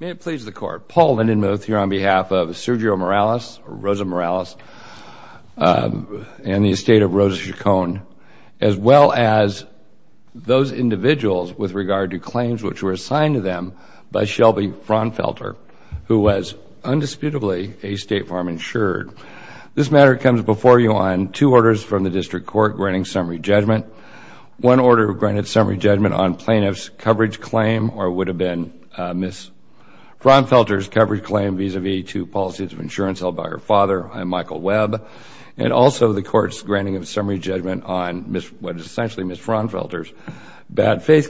May it please the Court, Paul Lindenmuth here on behalf of Sergio Morales, Rosa Morales, and the estate of Rosa Chacon, as well as those individuals with regard to claims which were assigned to them by Shelbie Frounfelter, who was undisputably a State Farm insured. This matter comes before you on two orders from the District Court granting summary judgment. One order granted summary judgment on plaintiff's coverage claim or would have been Ms. Frounfelter's coverage claim vis-a-vis to policies of insurance held by her father, I. Michael Webb, and also the Court's granting of summary judgment on what is essentially Ms. Frounfelter's bad faith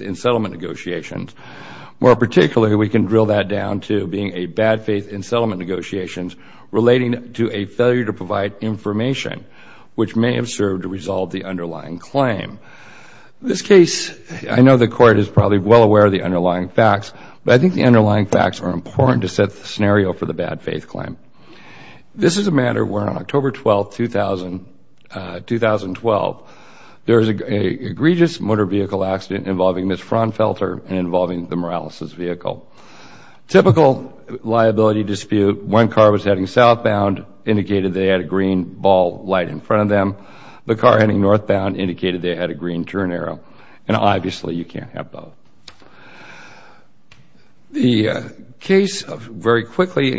in settlement negotiations. More particularly, we can drill that down to being a bad faith in settlement negotiations relating to a failure to provide information which may have served to resolve the underlying claim. This case, I know the Court is probably well aware of the underlying facts, but I think the underlying facts are important to set the scenario for the bad faith claim. This is a matter where on October 12, 2012, there was an egregious motor vehicle accident involving Ms. Frounfelter and involving the Morales' vehicle. Typical liability dispute, one car was heading southbound, indicated they had a green ball light in front of them. The car heading northbound indicated they had a green turn arrow, and obviously you can't have both. The case very quickly,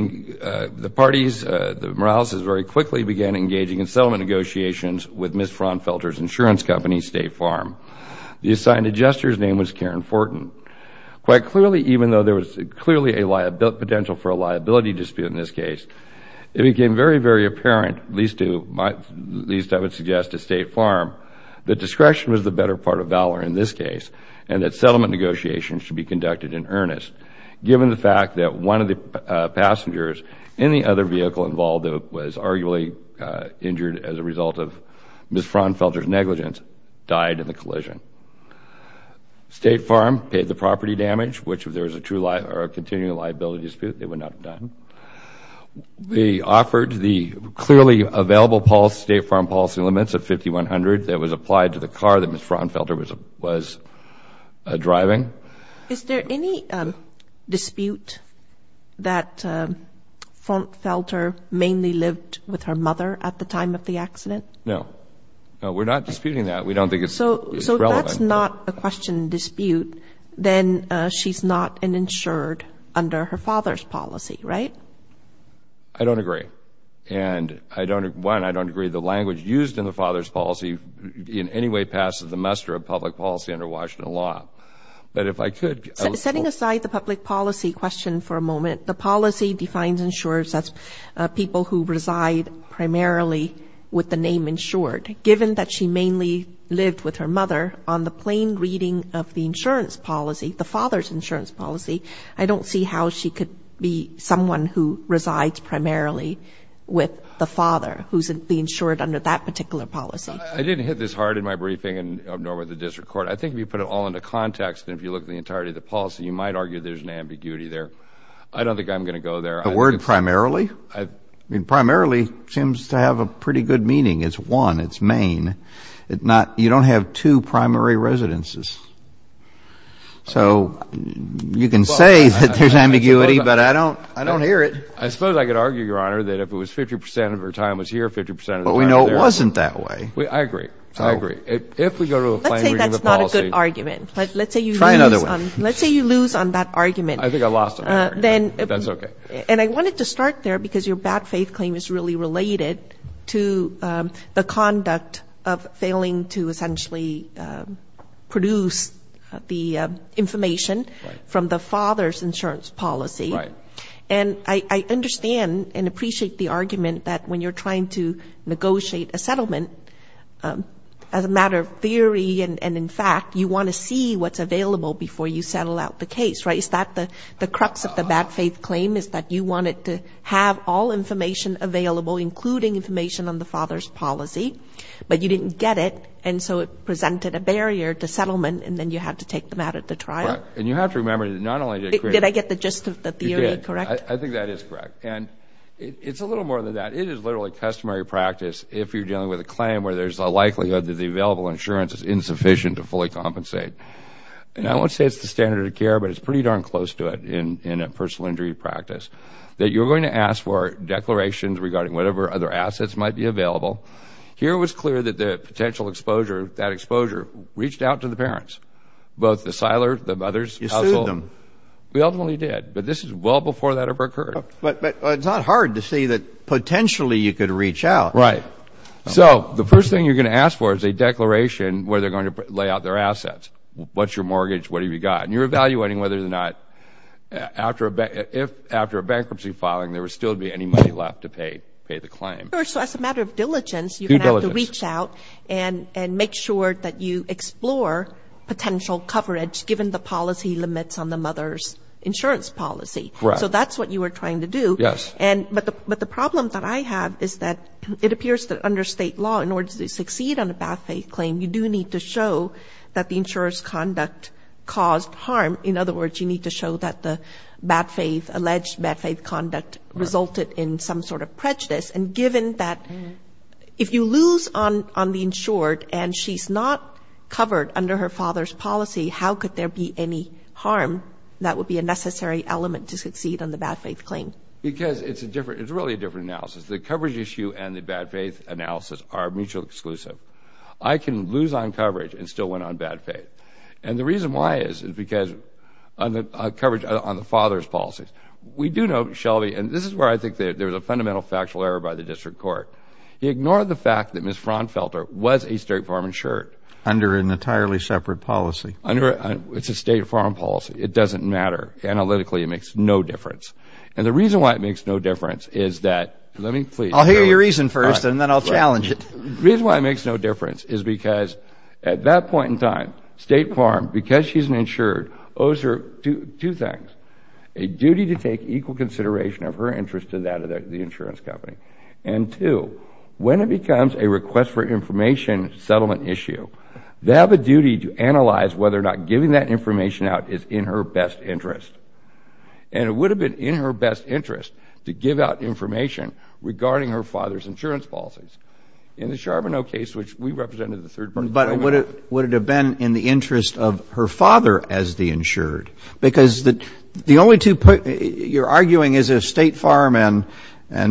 the parties, the Morales' very quickly began engaging in settlement negotiations with Ms. Frounfelter's insurance company, State Farm. The assigned adjuster's name was Karen Fortin. Quite clearly, even though there was clearly a potential for a liability dispute in this case, it became very, very apparent, at least I would suggest to State Farm, that discretion was the better part of valor in this case and that settlement negotiations should be conducted in earnest, given the fact that one of the passengers in the other vehicle involved was arguably injured as a result of Ms. Frounfelter's negligence, died in the collision. State Farm paid the property damage, which if there was a continuing liability dispute, they would not have done. They offered the clearly available State Farm policy limits of $5,100 that was applied to the car that Ms. Frounfelter was driving. Is there any dispute that Frounfelter mainly lived with her mother at the time of the accident? No. No, we're not disputing that. We don't think it's relevant. So that's not a question dispute, then she's not an insured under her father's policy, right? I don't agree. And I don't, one, I don't agree the language used in the father's policy in any way passes the muster of public policy under Washington law. But if I could, I would support Setting aside the public policy question for a moment, the policy defines insurers as people who reside primarily with the name insured. Given that she mainly lived with her mother on the plain reading of the insurance policy, the father's insurance policy, I don't see how she could be someone who resides primarily with the father who's the insured under that particular policy. I didn't hit this hard in my briefing, nor with the district court. I think if you put it all into context and if you look at the entirety of the policy, you might argue there's an ambiguity there. I don't think I'm going to go there. The word primarily? I mean, primarily seems to have a pretty good meaning. It's one, it's Maine. It's not, you don't have two primary residences. So you can say that there's ambiguity, but I don't, I don't hear it. I suppose I could argue, Your Honor, that if it was 50% of her time was here, 50% of the time was there. But we know it wasn't that way. I agree. I agree. If we go to the plain reading of the policy. Let's say that's not a good argument. Let's say you lose on that argument. I think I lost on that argument. But that's okay. And I wanted to start there because your bad faith claim is really related to the conduct of failing to essentially produce the information from the father's insurance policy. Right. And I understand and appreciate the argument that when you're trying to negotiate a settlement, as a matter of theory and in fact, you want to see what's available before you settle out the case, right? Is that the crux of the bad faith claim is that you wanted to have all information available, including information on the father's policy, but you didn't get it. And so it presented a barrier to settlement and then you had to take them out at the trial. And you have to remember that not only did I get the gist of the theory, correct? I think that is correct. And it's a little more than that. It is literally customary practice if you're dealing with a claim where there's a likelihood that the available insurance is insufficient to fully compensate. And I won't say it's the standard of care, but it's pretty darn close to it in a personal injury practice, that you're going to ask for declarations regarding whatever other assets might be available. Here it was clear that the potential exposure, that exposure reached out to the parents, both the siler, the mother's household. You sued them. We ultimately did. But this is well before that ever occurred. But it's not hard to see that potentially you could reach out. Right. So the first thing you're going to ask for is a declaration where they're going to lay out their assets. What's your mortgage? What have you got? And you're evaluating whether or not, after a bankruptcy filing, there would still be any money left to pay the claim. So as a matter of diligence, you're going to have to reach out and make sure that you explore potential coverage given the policy limits on the mother's insurance policy. Correct. So that's what you were trying to do. Yes. But the problem that I have is that it appears that under state law, in order to succeed on a bad faith claim, you do need to show that the insurer's conduct caused harm. In other words, you need to show that the bad faith, alleged bad faith conduct resulted in some sort of prejudice. And given that, if you lose on the insured and she's not covered under her father's policy, how could there be any harm that would be a necessary element to succeed on the bad faith claim? Because it's a different, it's really a different analysis. The coverage issue and the bad faith analysis are mutually exclusive. I can lose on coverage and still win on bad faith. And the reason why is, is because on the coverage on the father's policies. We do know, Shelby, and this is where I think there's a fundamental factual error by the district court. He ignored the fact that Ms. Fraunfelter was a state farm insured. Under an entirely separate policy. Under, it's a state farm policy. It doesn't matter. Analytically, it makes no difference. And the reason why it makes no difference is that, let me please. I'll hear your reason first and then I'll challenge it. The reason why it makes no difference is because at that point in time, state farm, because she's an insured, owes her two things. A duty to take equal consideration of her interest to that of the insurance company. And two, when it becomes a request for information settlement issue, they have a duty to analyze whether or not giving that information out is in her best interest. And it would have been in her best interest to give out information regarding her father's insurance policies. In the Charbonneau case, which we represented the third party. But would it have been in the interest of her father as the insured? Because the only two, you're arguing is a state farm and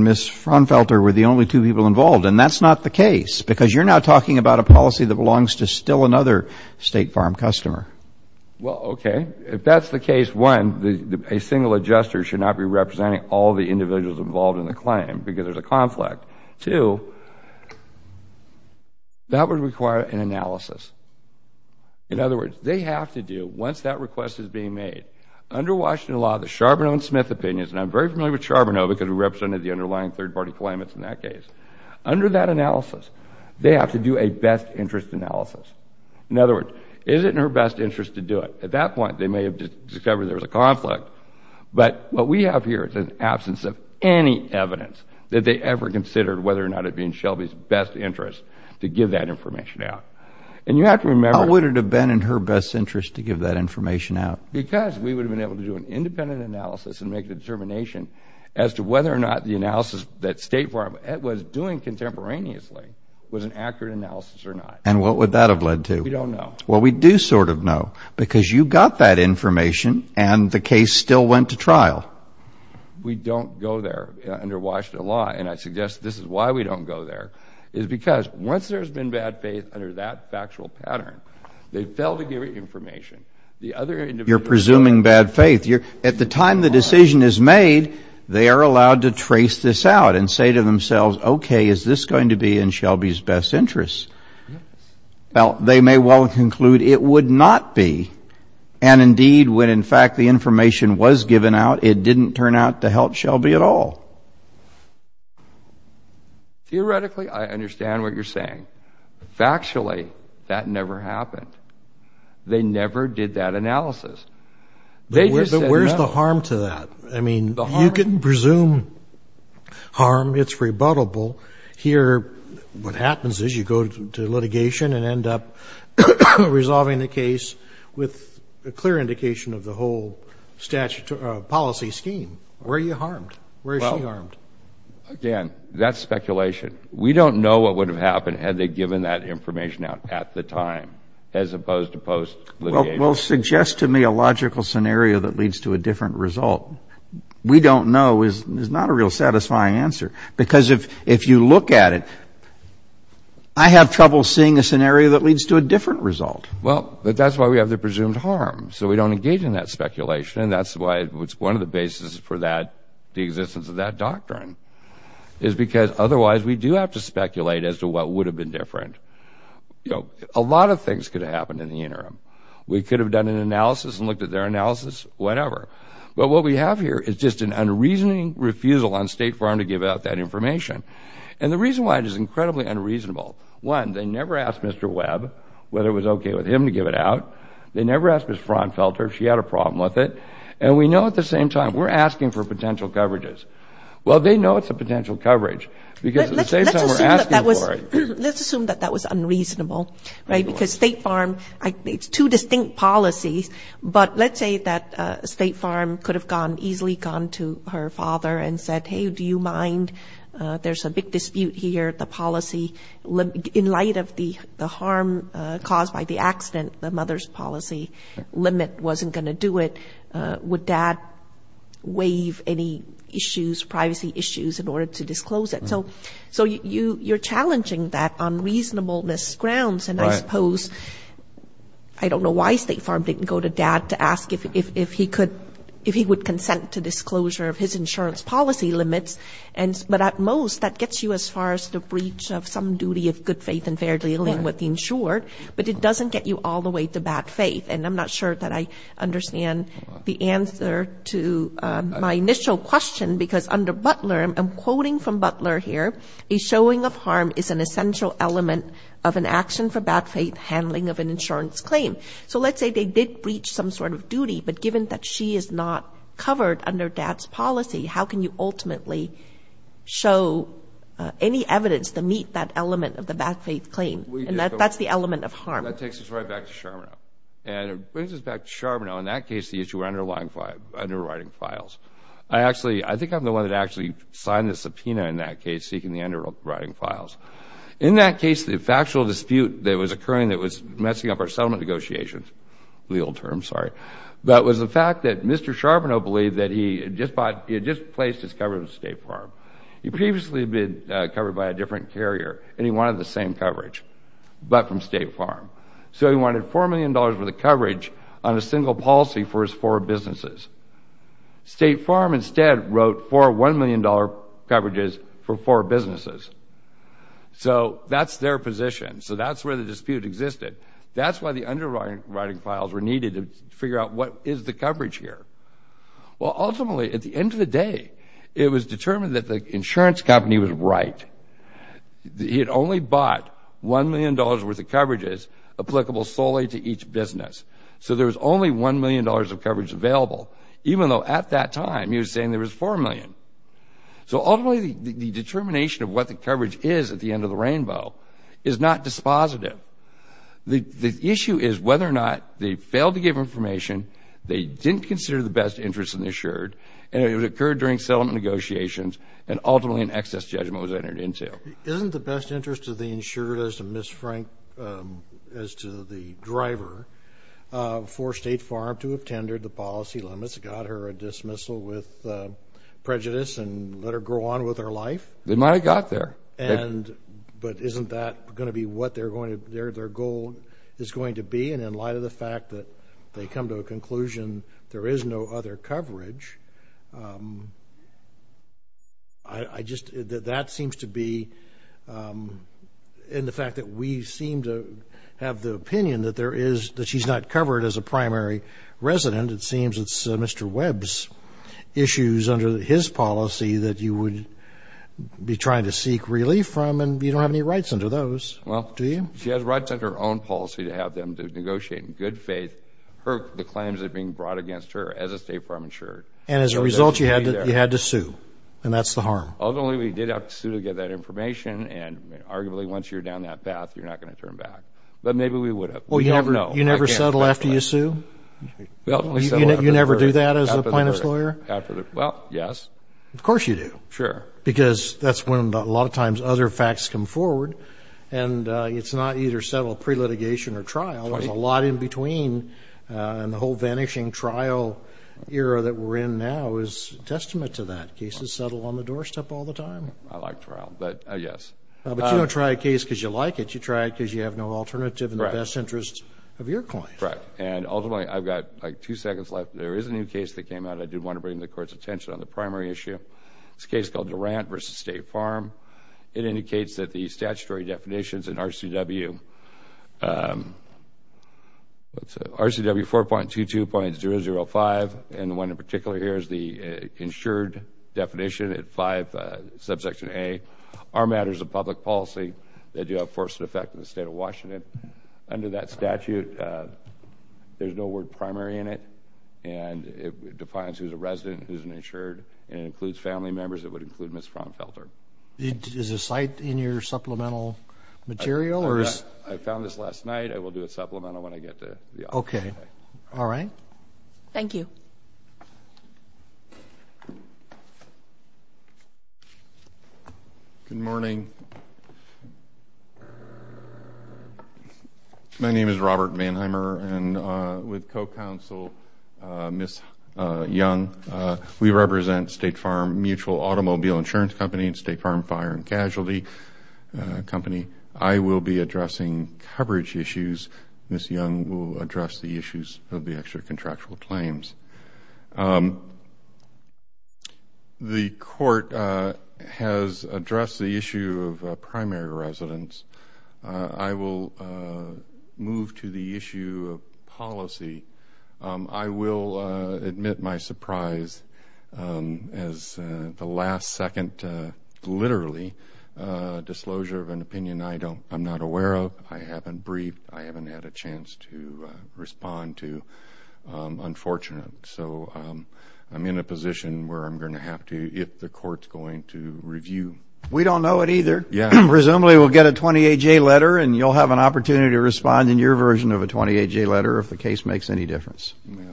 Ms. Fraunfelter were the only two people involved. And that's not the case. Because you're now talking about a policy that belongs to still another state farm customer. Well, okay. If that's the case, one, a single adjuster should not be representing all the time because there's a conflict. Two, that would require an analysis. In other words, they have to do, once that request is being made, under Washington law, the Charbonneau and Smith opinions, and I'm very familiar with Charbonneau because we represented the underlying third party claimants in that case. Under that analysis, they have to do a best interest analysis. In other words, is it in her best interest to do it? At that point, they may have discovered there was a conflict. But what we have here is an absence of any evidence that they ever considered whether or not it would be in Shelby's best interest to give that information out. And you have to remember... How would it have been in her best interest to give that information out? Because we would have been able to do an independent analysis and make a determination as to whether or not the analysis that state farm was doing contemporaneously was an accurate analysis or not. And what would that have led to? We don't know. Well, we do sort of know because you got that information and the case still went to trial. We don't go there under Washington law, and I suggest this is why we don't go there, is because once there's been bad faith under that factual pattern, they fail to give you information. The other... You're presuming bad faith. At the time the decision is made, they are allowed to trace this out and say to themselves, okay, is this going to be in Shelby's best interest? Well, they may well conclude it would not be. And indeed, when in fact the information was given out, it didn't turn out to help Shelby at all. Theoretically, I understand what you're saying. Factually, that never happened. They never did that analysis. They just said no. But where's the harm to that? I mean, you can presume harm. It's rebuttable. Here, what you do is you go to litigation and end up resolving the case with a clear indication of the whole policy scheme. Where are you harmed? Where is she harmed? Again, that's speculation. We don't know what would have happened had they given that information out at the time as opposed to post-litigation. Well, suggest to me a logical scenario that leads to a different result. We don't know is not a real satisfying answer. Because if you look at it, I have trouble seeing a scenario that leads to a different result. Well, that's why we have the presumed harm. So we don't engage in that speculation. And that's why it's one of the basis for that, the existence of that doctrine, is because otherwise we do have to speculate as to what would have been different. A lot of things could have happened in the interim. We could have done an analysis and it's an unreasoning refusal on State Farm to give out that information. And the reason why it is incredibly unreasonable, one, they never asked Mr. Webb whether it was okay with him to give it out. They never asked Ms. Fraunfelter if she had a problem with it. And we know at the same time, we're asking for potential coverages. Well, they know it's a potential coverage because at the same time, we're asking for it. Let's assume that that was unreasonable, right? Because State Farm, it's two distinct policies. But let's say that State Farm could have easily gone to her father and said, hey, do you mind? There's a big dispute here. The policy, in light of the harm caused by the accident, the mother's policy limit wasn't going to do it. Would dad waive any issues, privacy issues in order to disclose it? So you're challenging that on reasonableness grounds. And I suppose, I don't know why State Farm didn't go to dad to ask if he could, if he would consent to disclosure of his insurance policy limits. But at most, that gets you as far as the breach of some duty of good faith and fair dealing with the insured. But it doesn't get you all the way to bad faith. And I'm not sure that I understand the answer to my initial question because under Butler, I'm quoting from Butler here, a showing of bad faith handling of an insurance claim. So let's say they did breach some sort of duty, but given that she is not covered under dad's policy, how can you ultimately show any evidence to meet that element of the bad faith claim? And that's the element of harm. That takes us right back to Charbonneau. And it brings us back to Charbonneau. In that case, the issue of underwriting files. I actually, I think I'm the one that actually signed the subpoena in that case seeking the underwriting files. In that case, the factual dispute, that was occurring, that was messing up our settlement negotiations, the old term, sorry. That was the fact that Mr. Charbonneau believed that he had just placed his coverage on State Farm. He previously had been covered by a different carrier and he wanted the same coverage, but from State Farm. So he wanted $4 million for the coverage on a single policy for his four businesses. State Farm instead wrote four $1 million coverages for four businesses. So, that's their position. So that's where the dispute existed. That's why the underwriting files were needed to figure out what is the coverage here. Well, ultimately, at the end of the day, it was determined that the insurance company was right. He had only bought $1 million worth of coverages applicable solely to each business. So there was only $1 million of coverage available, even though at that time he was saying there was $4 million. So ultimately the determination of what the coverage is at the end of the rainbow is not dispositive. The issue is whether or not they failed to give information, they didn't consider the best interest of the insured, and it occurred during settlement negotiations and ultimately an excess judgment was entered into. Isn't the best interest of the insured as to Ms. Frank as to the driver for State Farm to have tendered the policy limits, got her a dismissal with prejudice, and let her grow on with her life? They might have got there. But isn't that going to be what their goal is going to be? And in light of the fact that they come to a conclusion there is no other coverage, that seems to be, in the fact that we seem to have the opinion that she's not covered as a primary resident, it seems it's Mr. Webb's issues under his policy that you would be trying to seek relief from, and you don't have any rights under those, do you? Well, she has rights under her own policy to have them to negotiate in good faith her claims that are being brought against her as a State Farm insured. And as a result you had to sue, and that's the harm. Ultimately we did have to sue to get that information, and arguably once you're down that path you're not going to turn back. But maybe we would have. You never settle after you sue? You never do that as a plaintiff's lawyer? Well, yes. Of course you do. Sure. Because that's when a lot of times other facts come forward, and it's not either settle pre-litigation or trial. There's a lot in between, and the whole vanishing trial era that we're in now is a testament to that. Cases settle on the doorstep all the time. I like trial, but yes. But you don't try a case because you like it, you try it because you have no alternative in the best interests of your client. Correct. And ultimately I've got like two seconds left. There is a new case that came out. I did want to bring the Court's attention on the primary issue. It's a case called Durant v. State Farm. It indicates that the statutory definitions in RCW 4.22.005, and the one in particular here is the insured definition at 5 subsection A, are matters of public policy that do have force and effect in the State of Washington. Under that statute, there's no word primary in it, and it defines who's a resident, who's an insured, and it includes family members. It would include Ms. Frommfelter. Is the site in your supplemental material? I found this last night. I will do a supplemental when I get to the office. Okay. All right. Thank you. Good morning. My name is Robert Mannheimer, and with co-counsel Ms. Young, we represent State Farm Mutual Automobile Insurance Company and State Farm Fire and Casualty Company. I will be addressing coverage issues. Ms. Young will address the issues of the extra The court has addressed the issue of primary residence. I will move to the issue of policy. I will admit my surprise as the last second, literally, disclosure of an opinion I'm not I'm in a position where I'm going to have to, if the court's going to review We don't know it either. Presumably, we'll get a 28-J letter, and you'll have an opportunity to respond in your version of a 28-J letter if the case makes any difference.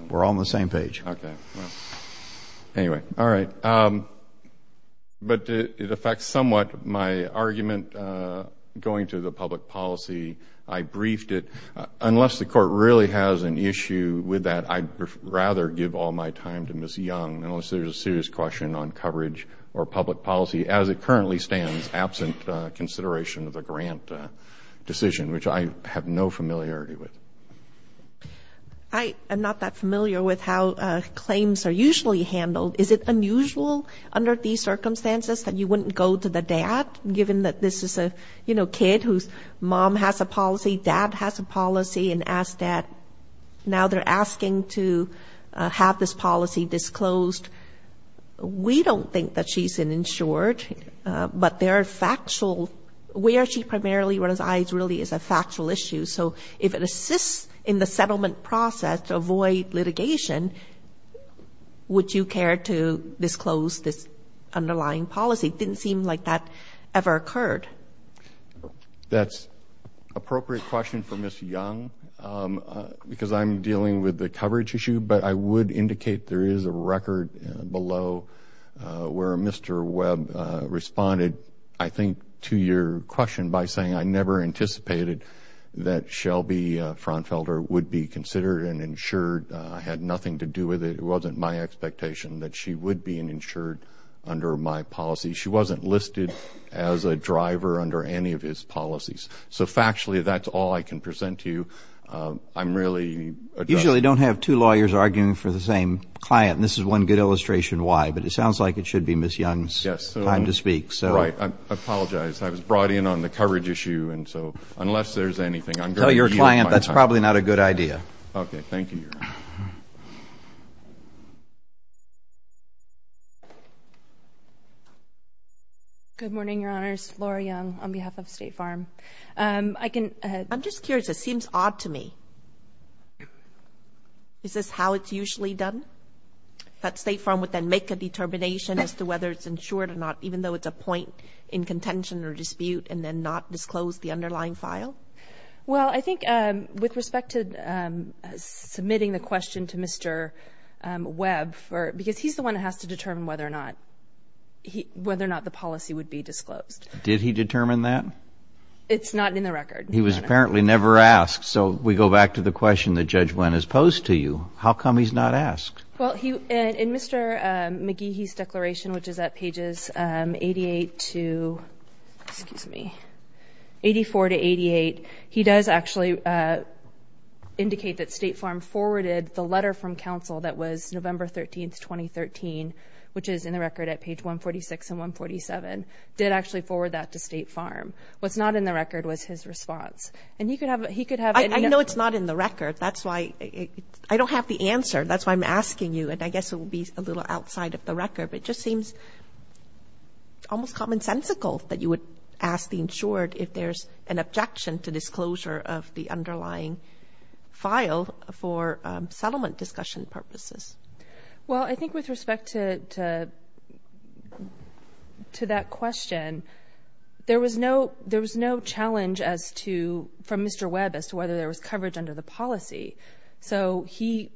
We're all on the same page. Okay. Anyway. All right. But it affects somewhat my argument going to the public policy. I briefed it. Unless the court really has an issue with that, I'd rather give all my time to Ms. Young, unless there's a serious question on coverage or public policy as it currently stands, absent consideration of the grant decision, which I have no familiarity with. I am not that familiar with how claims are usually handled. Is it unusual under these circumstances that you wouldn't go to the dad, given that this is a, you know, kid whose mom has a policy, dad has a policy, and ask that now they're asking to have this policy disclosed? We don't think that she's an insured, but there are factual, where she primarily resides really is a factual issue. So if it assists in the settlement process to avoid litigation, would you care to disclose this underlying policy? Didn't seem like that ever occurred. That's an appropriate question for Ms. Young, because I'm dealing with the coverage issue, but I would indicate there is a record below where Mr. Webb responded, I think, to your question by saying I never anticipated that Shelby Fronfelder would be considered an insured. I had nothing to do with it. It wasn't my expectation that she would be an insured under my policy. She wasn't listed as a driver under any of his policies. So factually, that's all I can present to you. I'm really Usually you don't have two lawyers arguing for the same client, and this is one good illustration why, but it sounds like it should be Ms. Young's time to speak. Right. I apologize. I was brought in on the coverage issue, and so unless there's anything I'm going to yield my time. No, your client, that's probably not a good idea. Okay. Thank you, Your Honor. Good morning, Your Honors. Laura Young on behalf of State Farm. I can I'm just curious. It seems odd to me. Is this how it's usually done? That State Farm would then make a determination as to whether it's insured or not, even though it's a point in contention or dispute, and then not disclose the underlying file? I think with respect to submitting the question to Mr. Webb, because he's the one that has to determine whether or not the policy would be disclosed. Did he determine that? It's not in the record. He was apparently never asked, so we go back to the question that Judge Wendt has posed to you. How come he's not asked? Well, in Mr. McGeehee's declaration, which is at pages 88 to, excuse me, 84 to 88, he does actually indicate that State Farm forwarded the letter from counsel that was November 13, 2013, which is in the record at page 146 and 147, did actually forward that to State Farm. What's not in the record was his response. And he could have I know it's not in the record. That's why I don't have the answer. That's why I'm asking you, and I guess it will be a little outside of the record, but it just seems almost commonsensical that you would ask the insured if there's an objection to disclosure of the underlying file for settlement discussion purposes. Well, I think with respect to that question, there was no challenge from Mr. Webb as to whether there was coverage under the policy. So he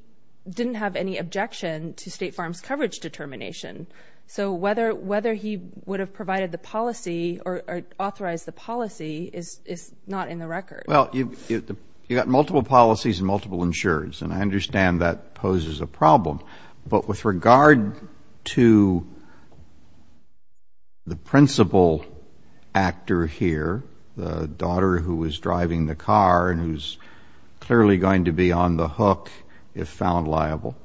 didn't have any objection to State Farm's coverage determination. So whether he would have provided the policy or authorized the policy is not in the record. Well, you've got multiple policies and multiple insurers, and I understand that poses a problem. But with regard to the principal actor here, the daughter who was driving the car and who's clearly going to be on the hook if found liable,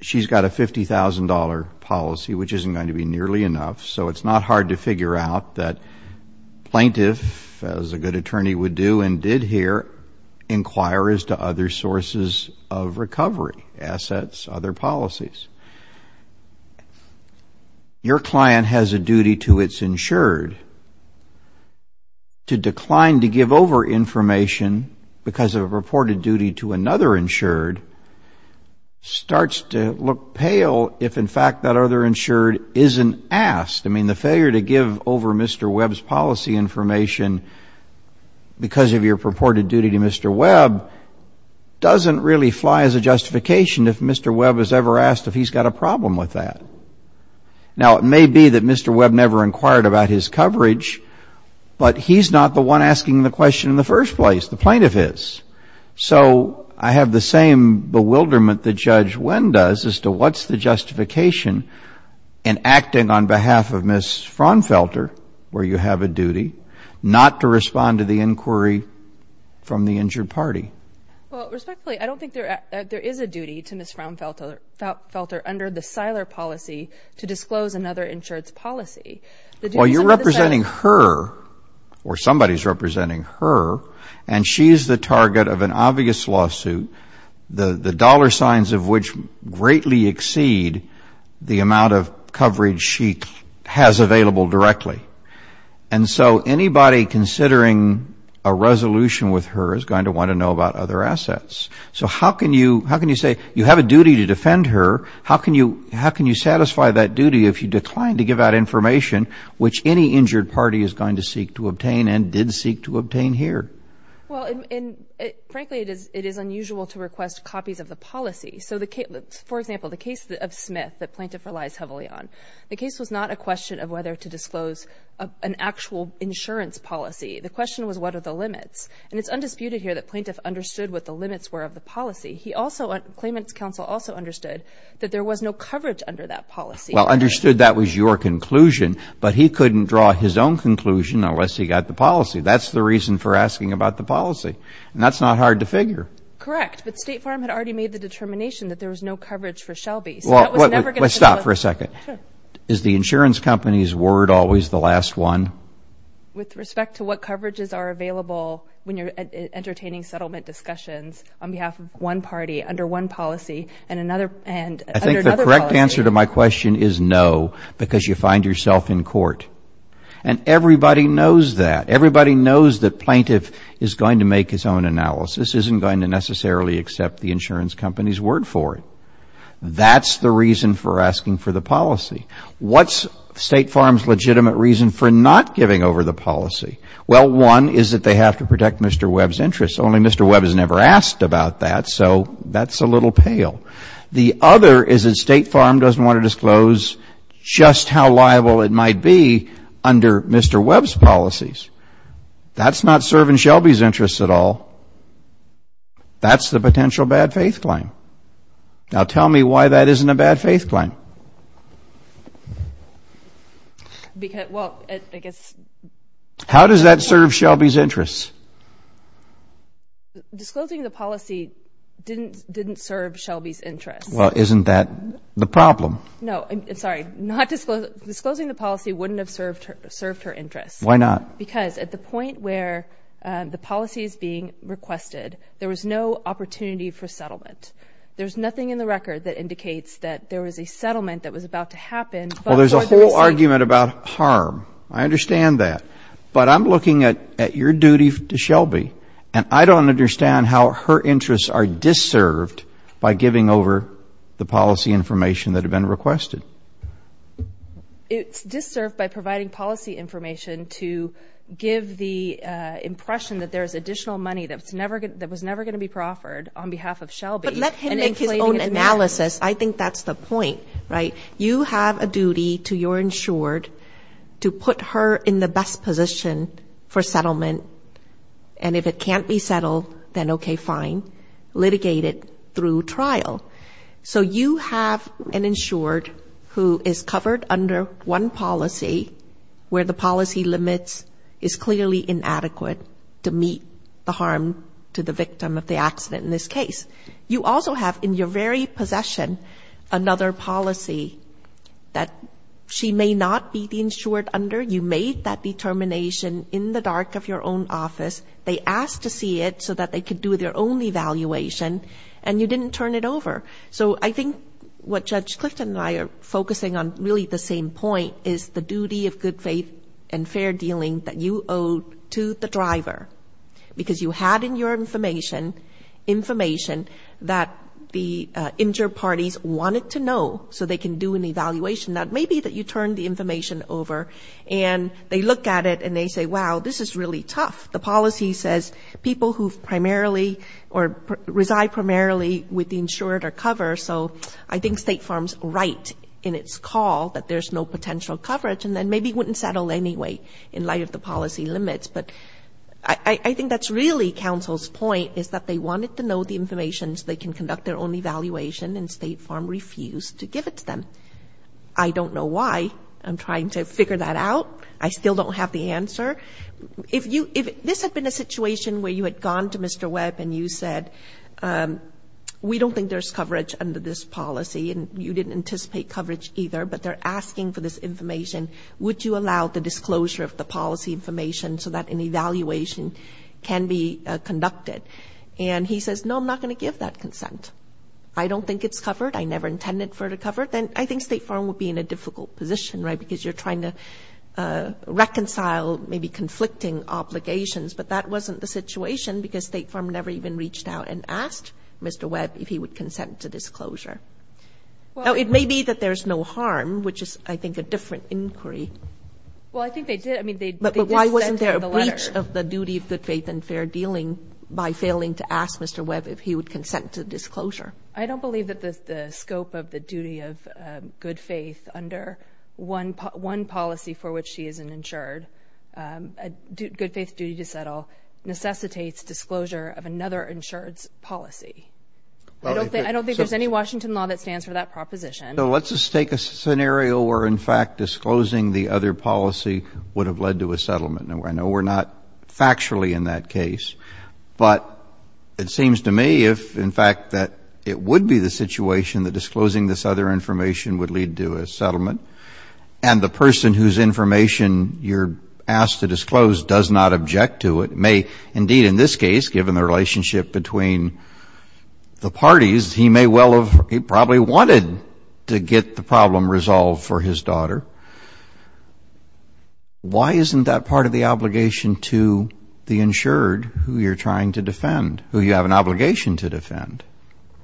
she's got a $50,000 policy, which isn't going to be nearly enough. So it's not hard to figure out that plaintiff, as a good attorney would do and did here, inquires to other sources of recovery, assets, other policies. Your client has a duty to its insured. To decline to give over information because of a purported duty to another insured starts to look pale if, in fact, that other insured isn't asked. I mean, the failure to give over Mr. Webb's policy information because of your purported duty to Mr. Webb doesn't really fly as a justification if Mr. Webb is ever asked if he's got a problem with that. Now, it may be that Mr. Webb never inquired about his coverage, but he's not the one asking the question in the first place, the plaintiff is. So I have the same bewilderment that Judge Wynn does as to what's the justification in acting on behalf of Ms. Fraunfelter, where you have a duty, not to respond to the inquiry from the injured party. Well, respectfully, I don't think there is a duty to Ms. Fraunfelter under the Siler policy to disclose another insured's policy. Well, you're representing her, or somebody's representing her, and she's the target of an obvious lawsuit, the dollar signs of which greatly exceed the amount of coverage she has available directly. And so anybody considering a resolution with her is going to want to know about other assets. So how can you say, you have a duty to defend her, how can you satisfy that duty if you decline to give out information which any injured party is going to seek to obtain and did seek to obtain here? Well, frankly, it is unusual to request copies of the policy. For example, the case of Smith that plaintiff relies heavily on, the case was not a question of whether to disclose an actual insurance policy. The question was, what are the limits? And it's undisputed here that plaintiff understood what the limits were of the policy. He also, Claimant's Counsel also understood that there was no coverage under that policy. Well, understood that was your conclusion, but he couldn't draw his own conclusion unless he got the policy. That's the reason for asking about the policy. And that's not hard to figure. Correct. But State Farm had already made the determination that there was no coverage for Shelby, so that was never going to be the... Well, stop for a second. Is the insurance company's word always the last one? With respect to what coverages are available when you're entertaining settlement discussions on behalf of one party, under one policy, and another, and under another policy? I think the correct answer to my question is no, because you find yourself in court. And everybody knows that. Everybody knows that plaintiff is going to make his own analysis, isn't going to necessarily accept the insurance company's word for it. That's the reason for giving over the policy. Well, one is that they have to protect Mr. Webb's interests. Only Mr. Webb has never asked about that, so that's a little pale. The other is that State Farm doesn't want to disclose just how liable it might be under Mr. Webb's policies. That's not serving Shelby's interests at all. That's the potential bad faith claim. Now, tell me why that isn't a bad faith claim. Well, I guess... How does that serve Shelby's interests? Disclosing the policy didn't serve Shelby's interests. Well, isn't that the problem? No, I'm sorry. Disclosing the policy wouldn't have served her interests. Why not? Because at the point where the policy is being requested, there was no opportunity for settlement. There's nothing in the record that indicates that there was a settlement that was about to happen. Well, there's a whole argument about harm. I understand that. But I'm looking at your duty to Shelby, and I don't understand how her interests are disserved by giving over the policy information that had been requested. It's disserved by providing policy information to give the impression that there's additional money that was never going to be proffered on behalf of Shelby. But let him make his own analysis. I think that's the point, right? You have a duty to your insured to put her in the best position for settlement, and if it can't be settled, then okay, fine. Litigate it through trial. So you have an insured who is covered under one policy where the policy limits is clearly inadequate to meet the harm to the victim of the accident in this case. You also have in your very possession another policy that she may not be the insured under. You made that determination in the dark of your own office. They asked to see it so that they could do their own evaluation, and you didn't turn it over. So I think what Judge Clifton and I are focusing on really the same point is the duty of good faith and fair dealing that you owe to the driver, because you had in your information information that the insured parties wanted to know so they can do an evaluation that maybe that you turned the information over, and they look at it and they say, wow, this is really tough. The policy says people who primarily or reside primarily with the insured are covered, so I think State Farm's right in its call that there's no potential coverage, and then maybe it wouldn't settle anyway in light of the policy limits. But I think that's really counsel's point is that they wanted to know the information so they can conduct their own evaluation, and State Farm refused to give it to them. I don't know why. I'm trying to figure that out. I still don't have the answer. If this had been a situation where you had gone to Mr. Webb and you said, we don't think there's coverage under this policy, and you didn't anticipate coverage either, but they're asking for this information, would you allow the disclosure of the policy information so that an evaluation can be conducted? And he says, no, I'm not going to give that consent. I don't think it's covered. I never intended for it to cover. Then I think State Farm would be in a difficult position, right, because you're trying to reconcile maybe conflicting obligations. But that wasn't the situation because State Farm never even reached out and asked Mr. Webb if he would consent to disclosure. Now, it may be that there's no harm, which is, I think, a different inquiry. Well, I think they did. I mean, they did send him the letter. But why wasn't there a breach of the duty of good faith and fair dealing by failing to ask Mr. Webb if he would consent to disclosure? I don't believe that the scope of the duty of good faith under one policy for which he is an insured, a good faith duty to settle, necessitates disclosure of another insured's policy. I don't think there's any Washington law that stands for that proposition. So let's just take a scenario where, in fact, disclosing the other policy would have led to a settlement. Now, I know we're not factually in that case, but it seems to me if, in fact, that it would be the situation that disclosing this other information would lead to a settlement and the person whose information you're asked to disclose does not object to it may, indeed, in this case, given the relationship between the parties, he may well have probably wanted to get the problem resolved for his daughter. Why isn't that part of the obligation to the insured who you're trying to defend, who you have an obligation to defend?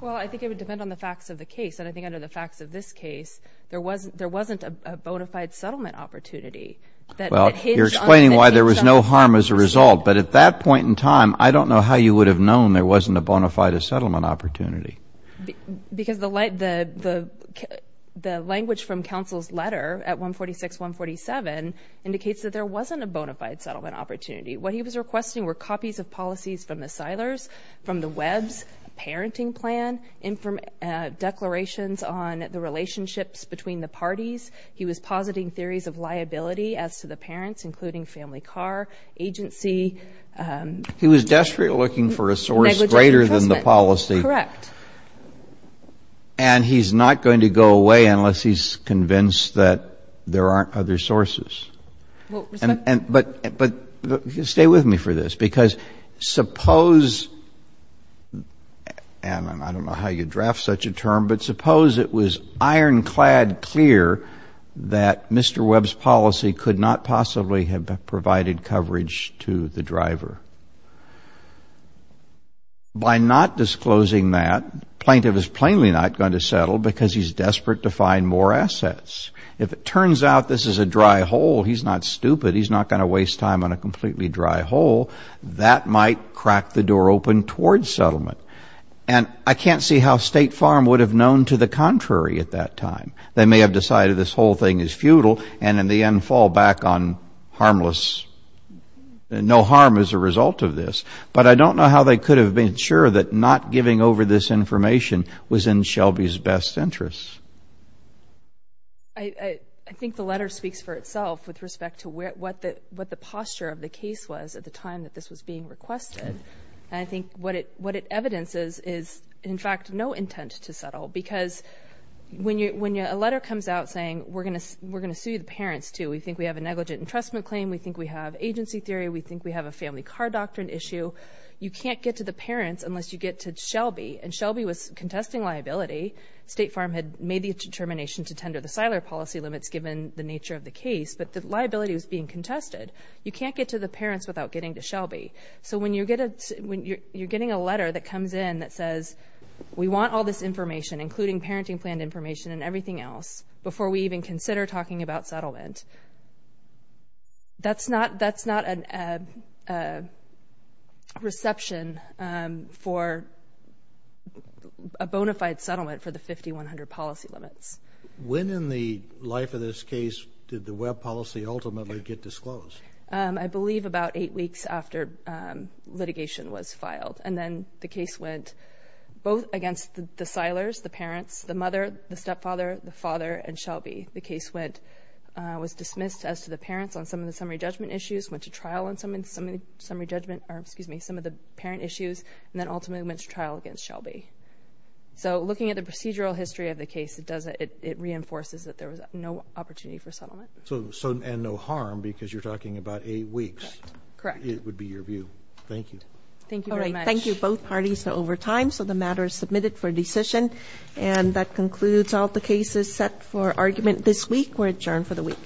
Well, I think it would depend on the facts of the case. And I think under the facts of this case, there wasn't a bona fide settlement opportunity that hinged on the case settlement. You're explaining why there was no harm as a result. But at that point in time, I don't know how you would have known there wasn't a bona fide settlement opportunity. Because the language from counsel's letter at 146, 147 indicates that there wasn't a bona fide settlement opportunity. What he was requesting were copies of policies from the Seilers, from the Webb's parenting plan, declarations on the relationships between the parties. He was positing theories of liability as to the parents, including family car, agency. He was desperate looking for a source greater than the policy. Correct. And he's not going to go away unless he's convinced that there aren't other sources. But stay with me for this, because suppose — and I don't know how you'd draft such a term — but suppose it was ironclad clear that Mr. Webb's policy could not possibly have provided coverage to the driver. By not disclosing that, the plaintiff is plainly not going to settle because he's desperate to find more assets. If it turns out this is a dry hole, he's not stupid. He's not going to waste time on a completely dry hole. That might crack the door open towards settlement. And I can't see how State Farm would have known to the contrary at that time. They may have decided this whole thing is futile and in the end fall back on harmless — no harm as a result of this. But I don't know how they could have been sure that not giving over this information was in Shelby's best interests. I think the letter speaks for itself with respect to what the posture of the case was at the time that this was being requested. And I think what it evidences is, in fact, no intent to settle. Because when a letter comes out saying we're going to sue the parents too, we think we have a negligent entrustment claim, we think we have agency theory, we think we have a family car doctrine issue, you can't get to the parents unless you get to Shelby. And Shelby was contesting liability. State Farm had made the determination to tender the Seiler policy limits given the nature of the case, but the liability was being contested. You can't get to the parents without getting to Shelby. So when you're getting a letter that comes in that says we want all this information, including parenting plan information and everything else, before we even consider talking about settlement, that's not a reception for a bona fide settlement for the 5100 policy limits. When in the life of this case did the Webb policy ultimately get disclosed? I believe about eight weeks after litigation was filed. And then the case went both against the Seilers, the parents, the mother, the stepfather, the father, and Shelby. The case was dismissed as to the parents on some of the summary judgment issues, went to trial on some of the parent issues, and then ultimately went to trial against Shelby. So looking at the procedural history of the case, it reinforces that there was no opportunity for settlement. And no harm, because you're talking about eight weeks, it would be your view. Thank you. Thank you very much. All right. Thank you both parties over time. So the matter is submitted for decision. And that concludes all the cases set for argument this week. We're adjourned for the week.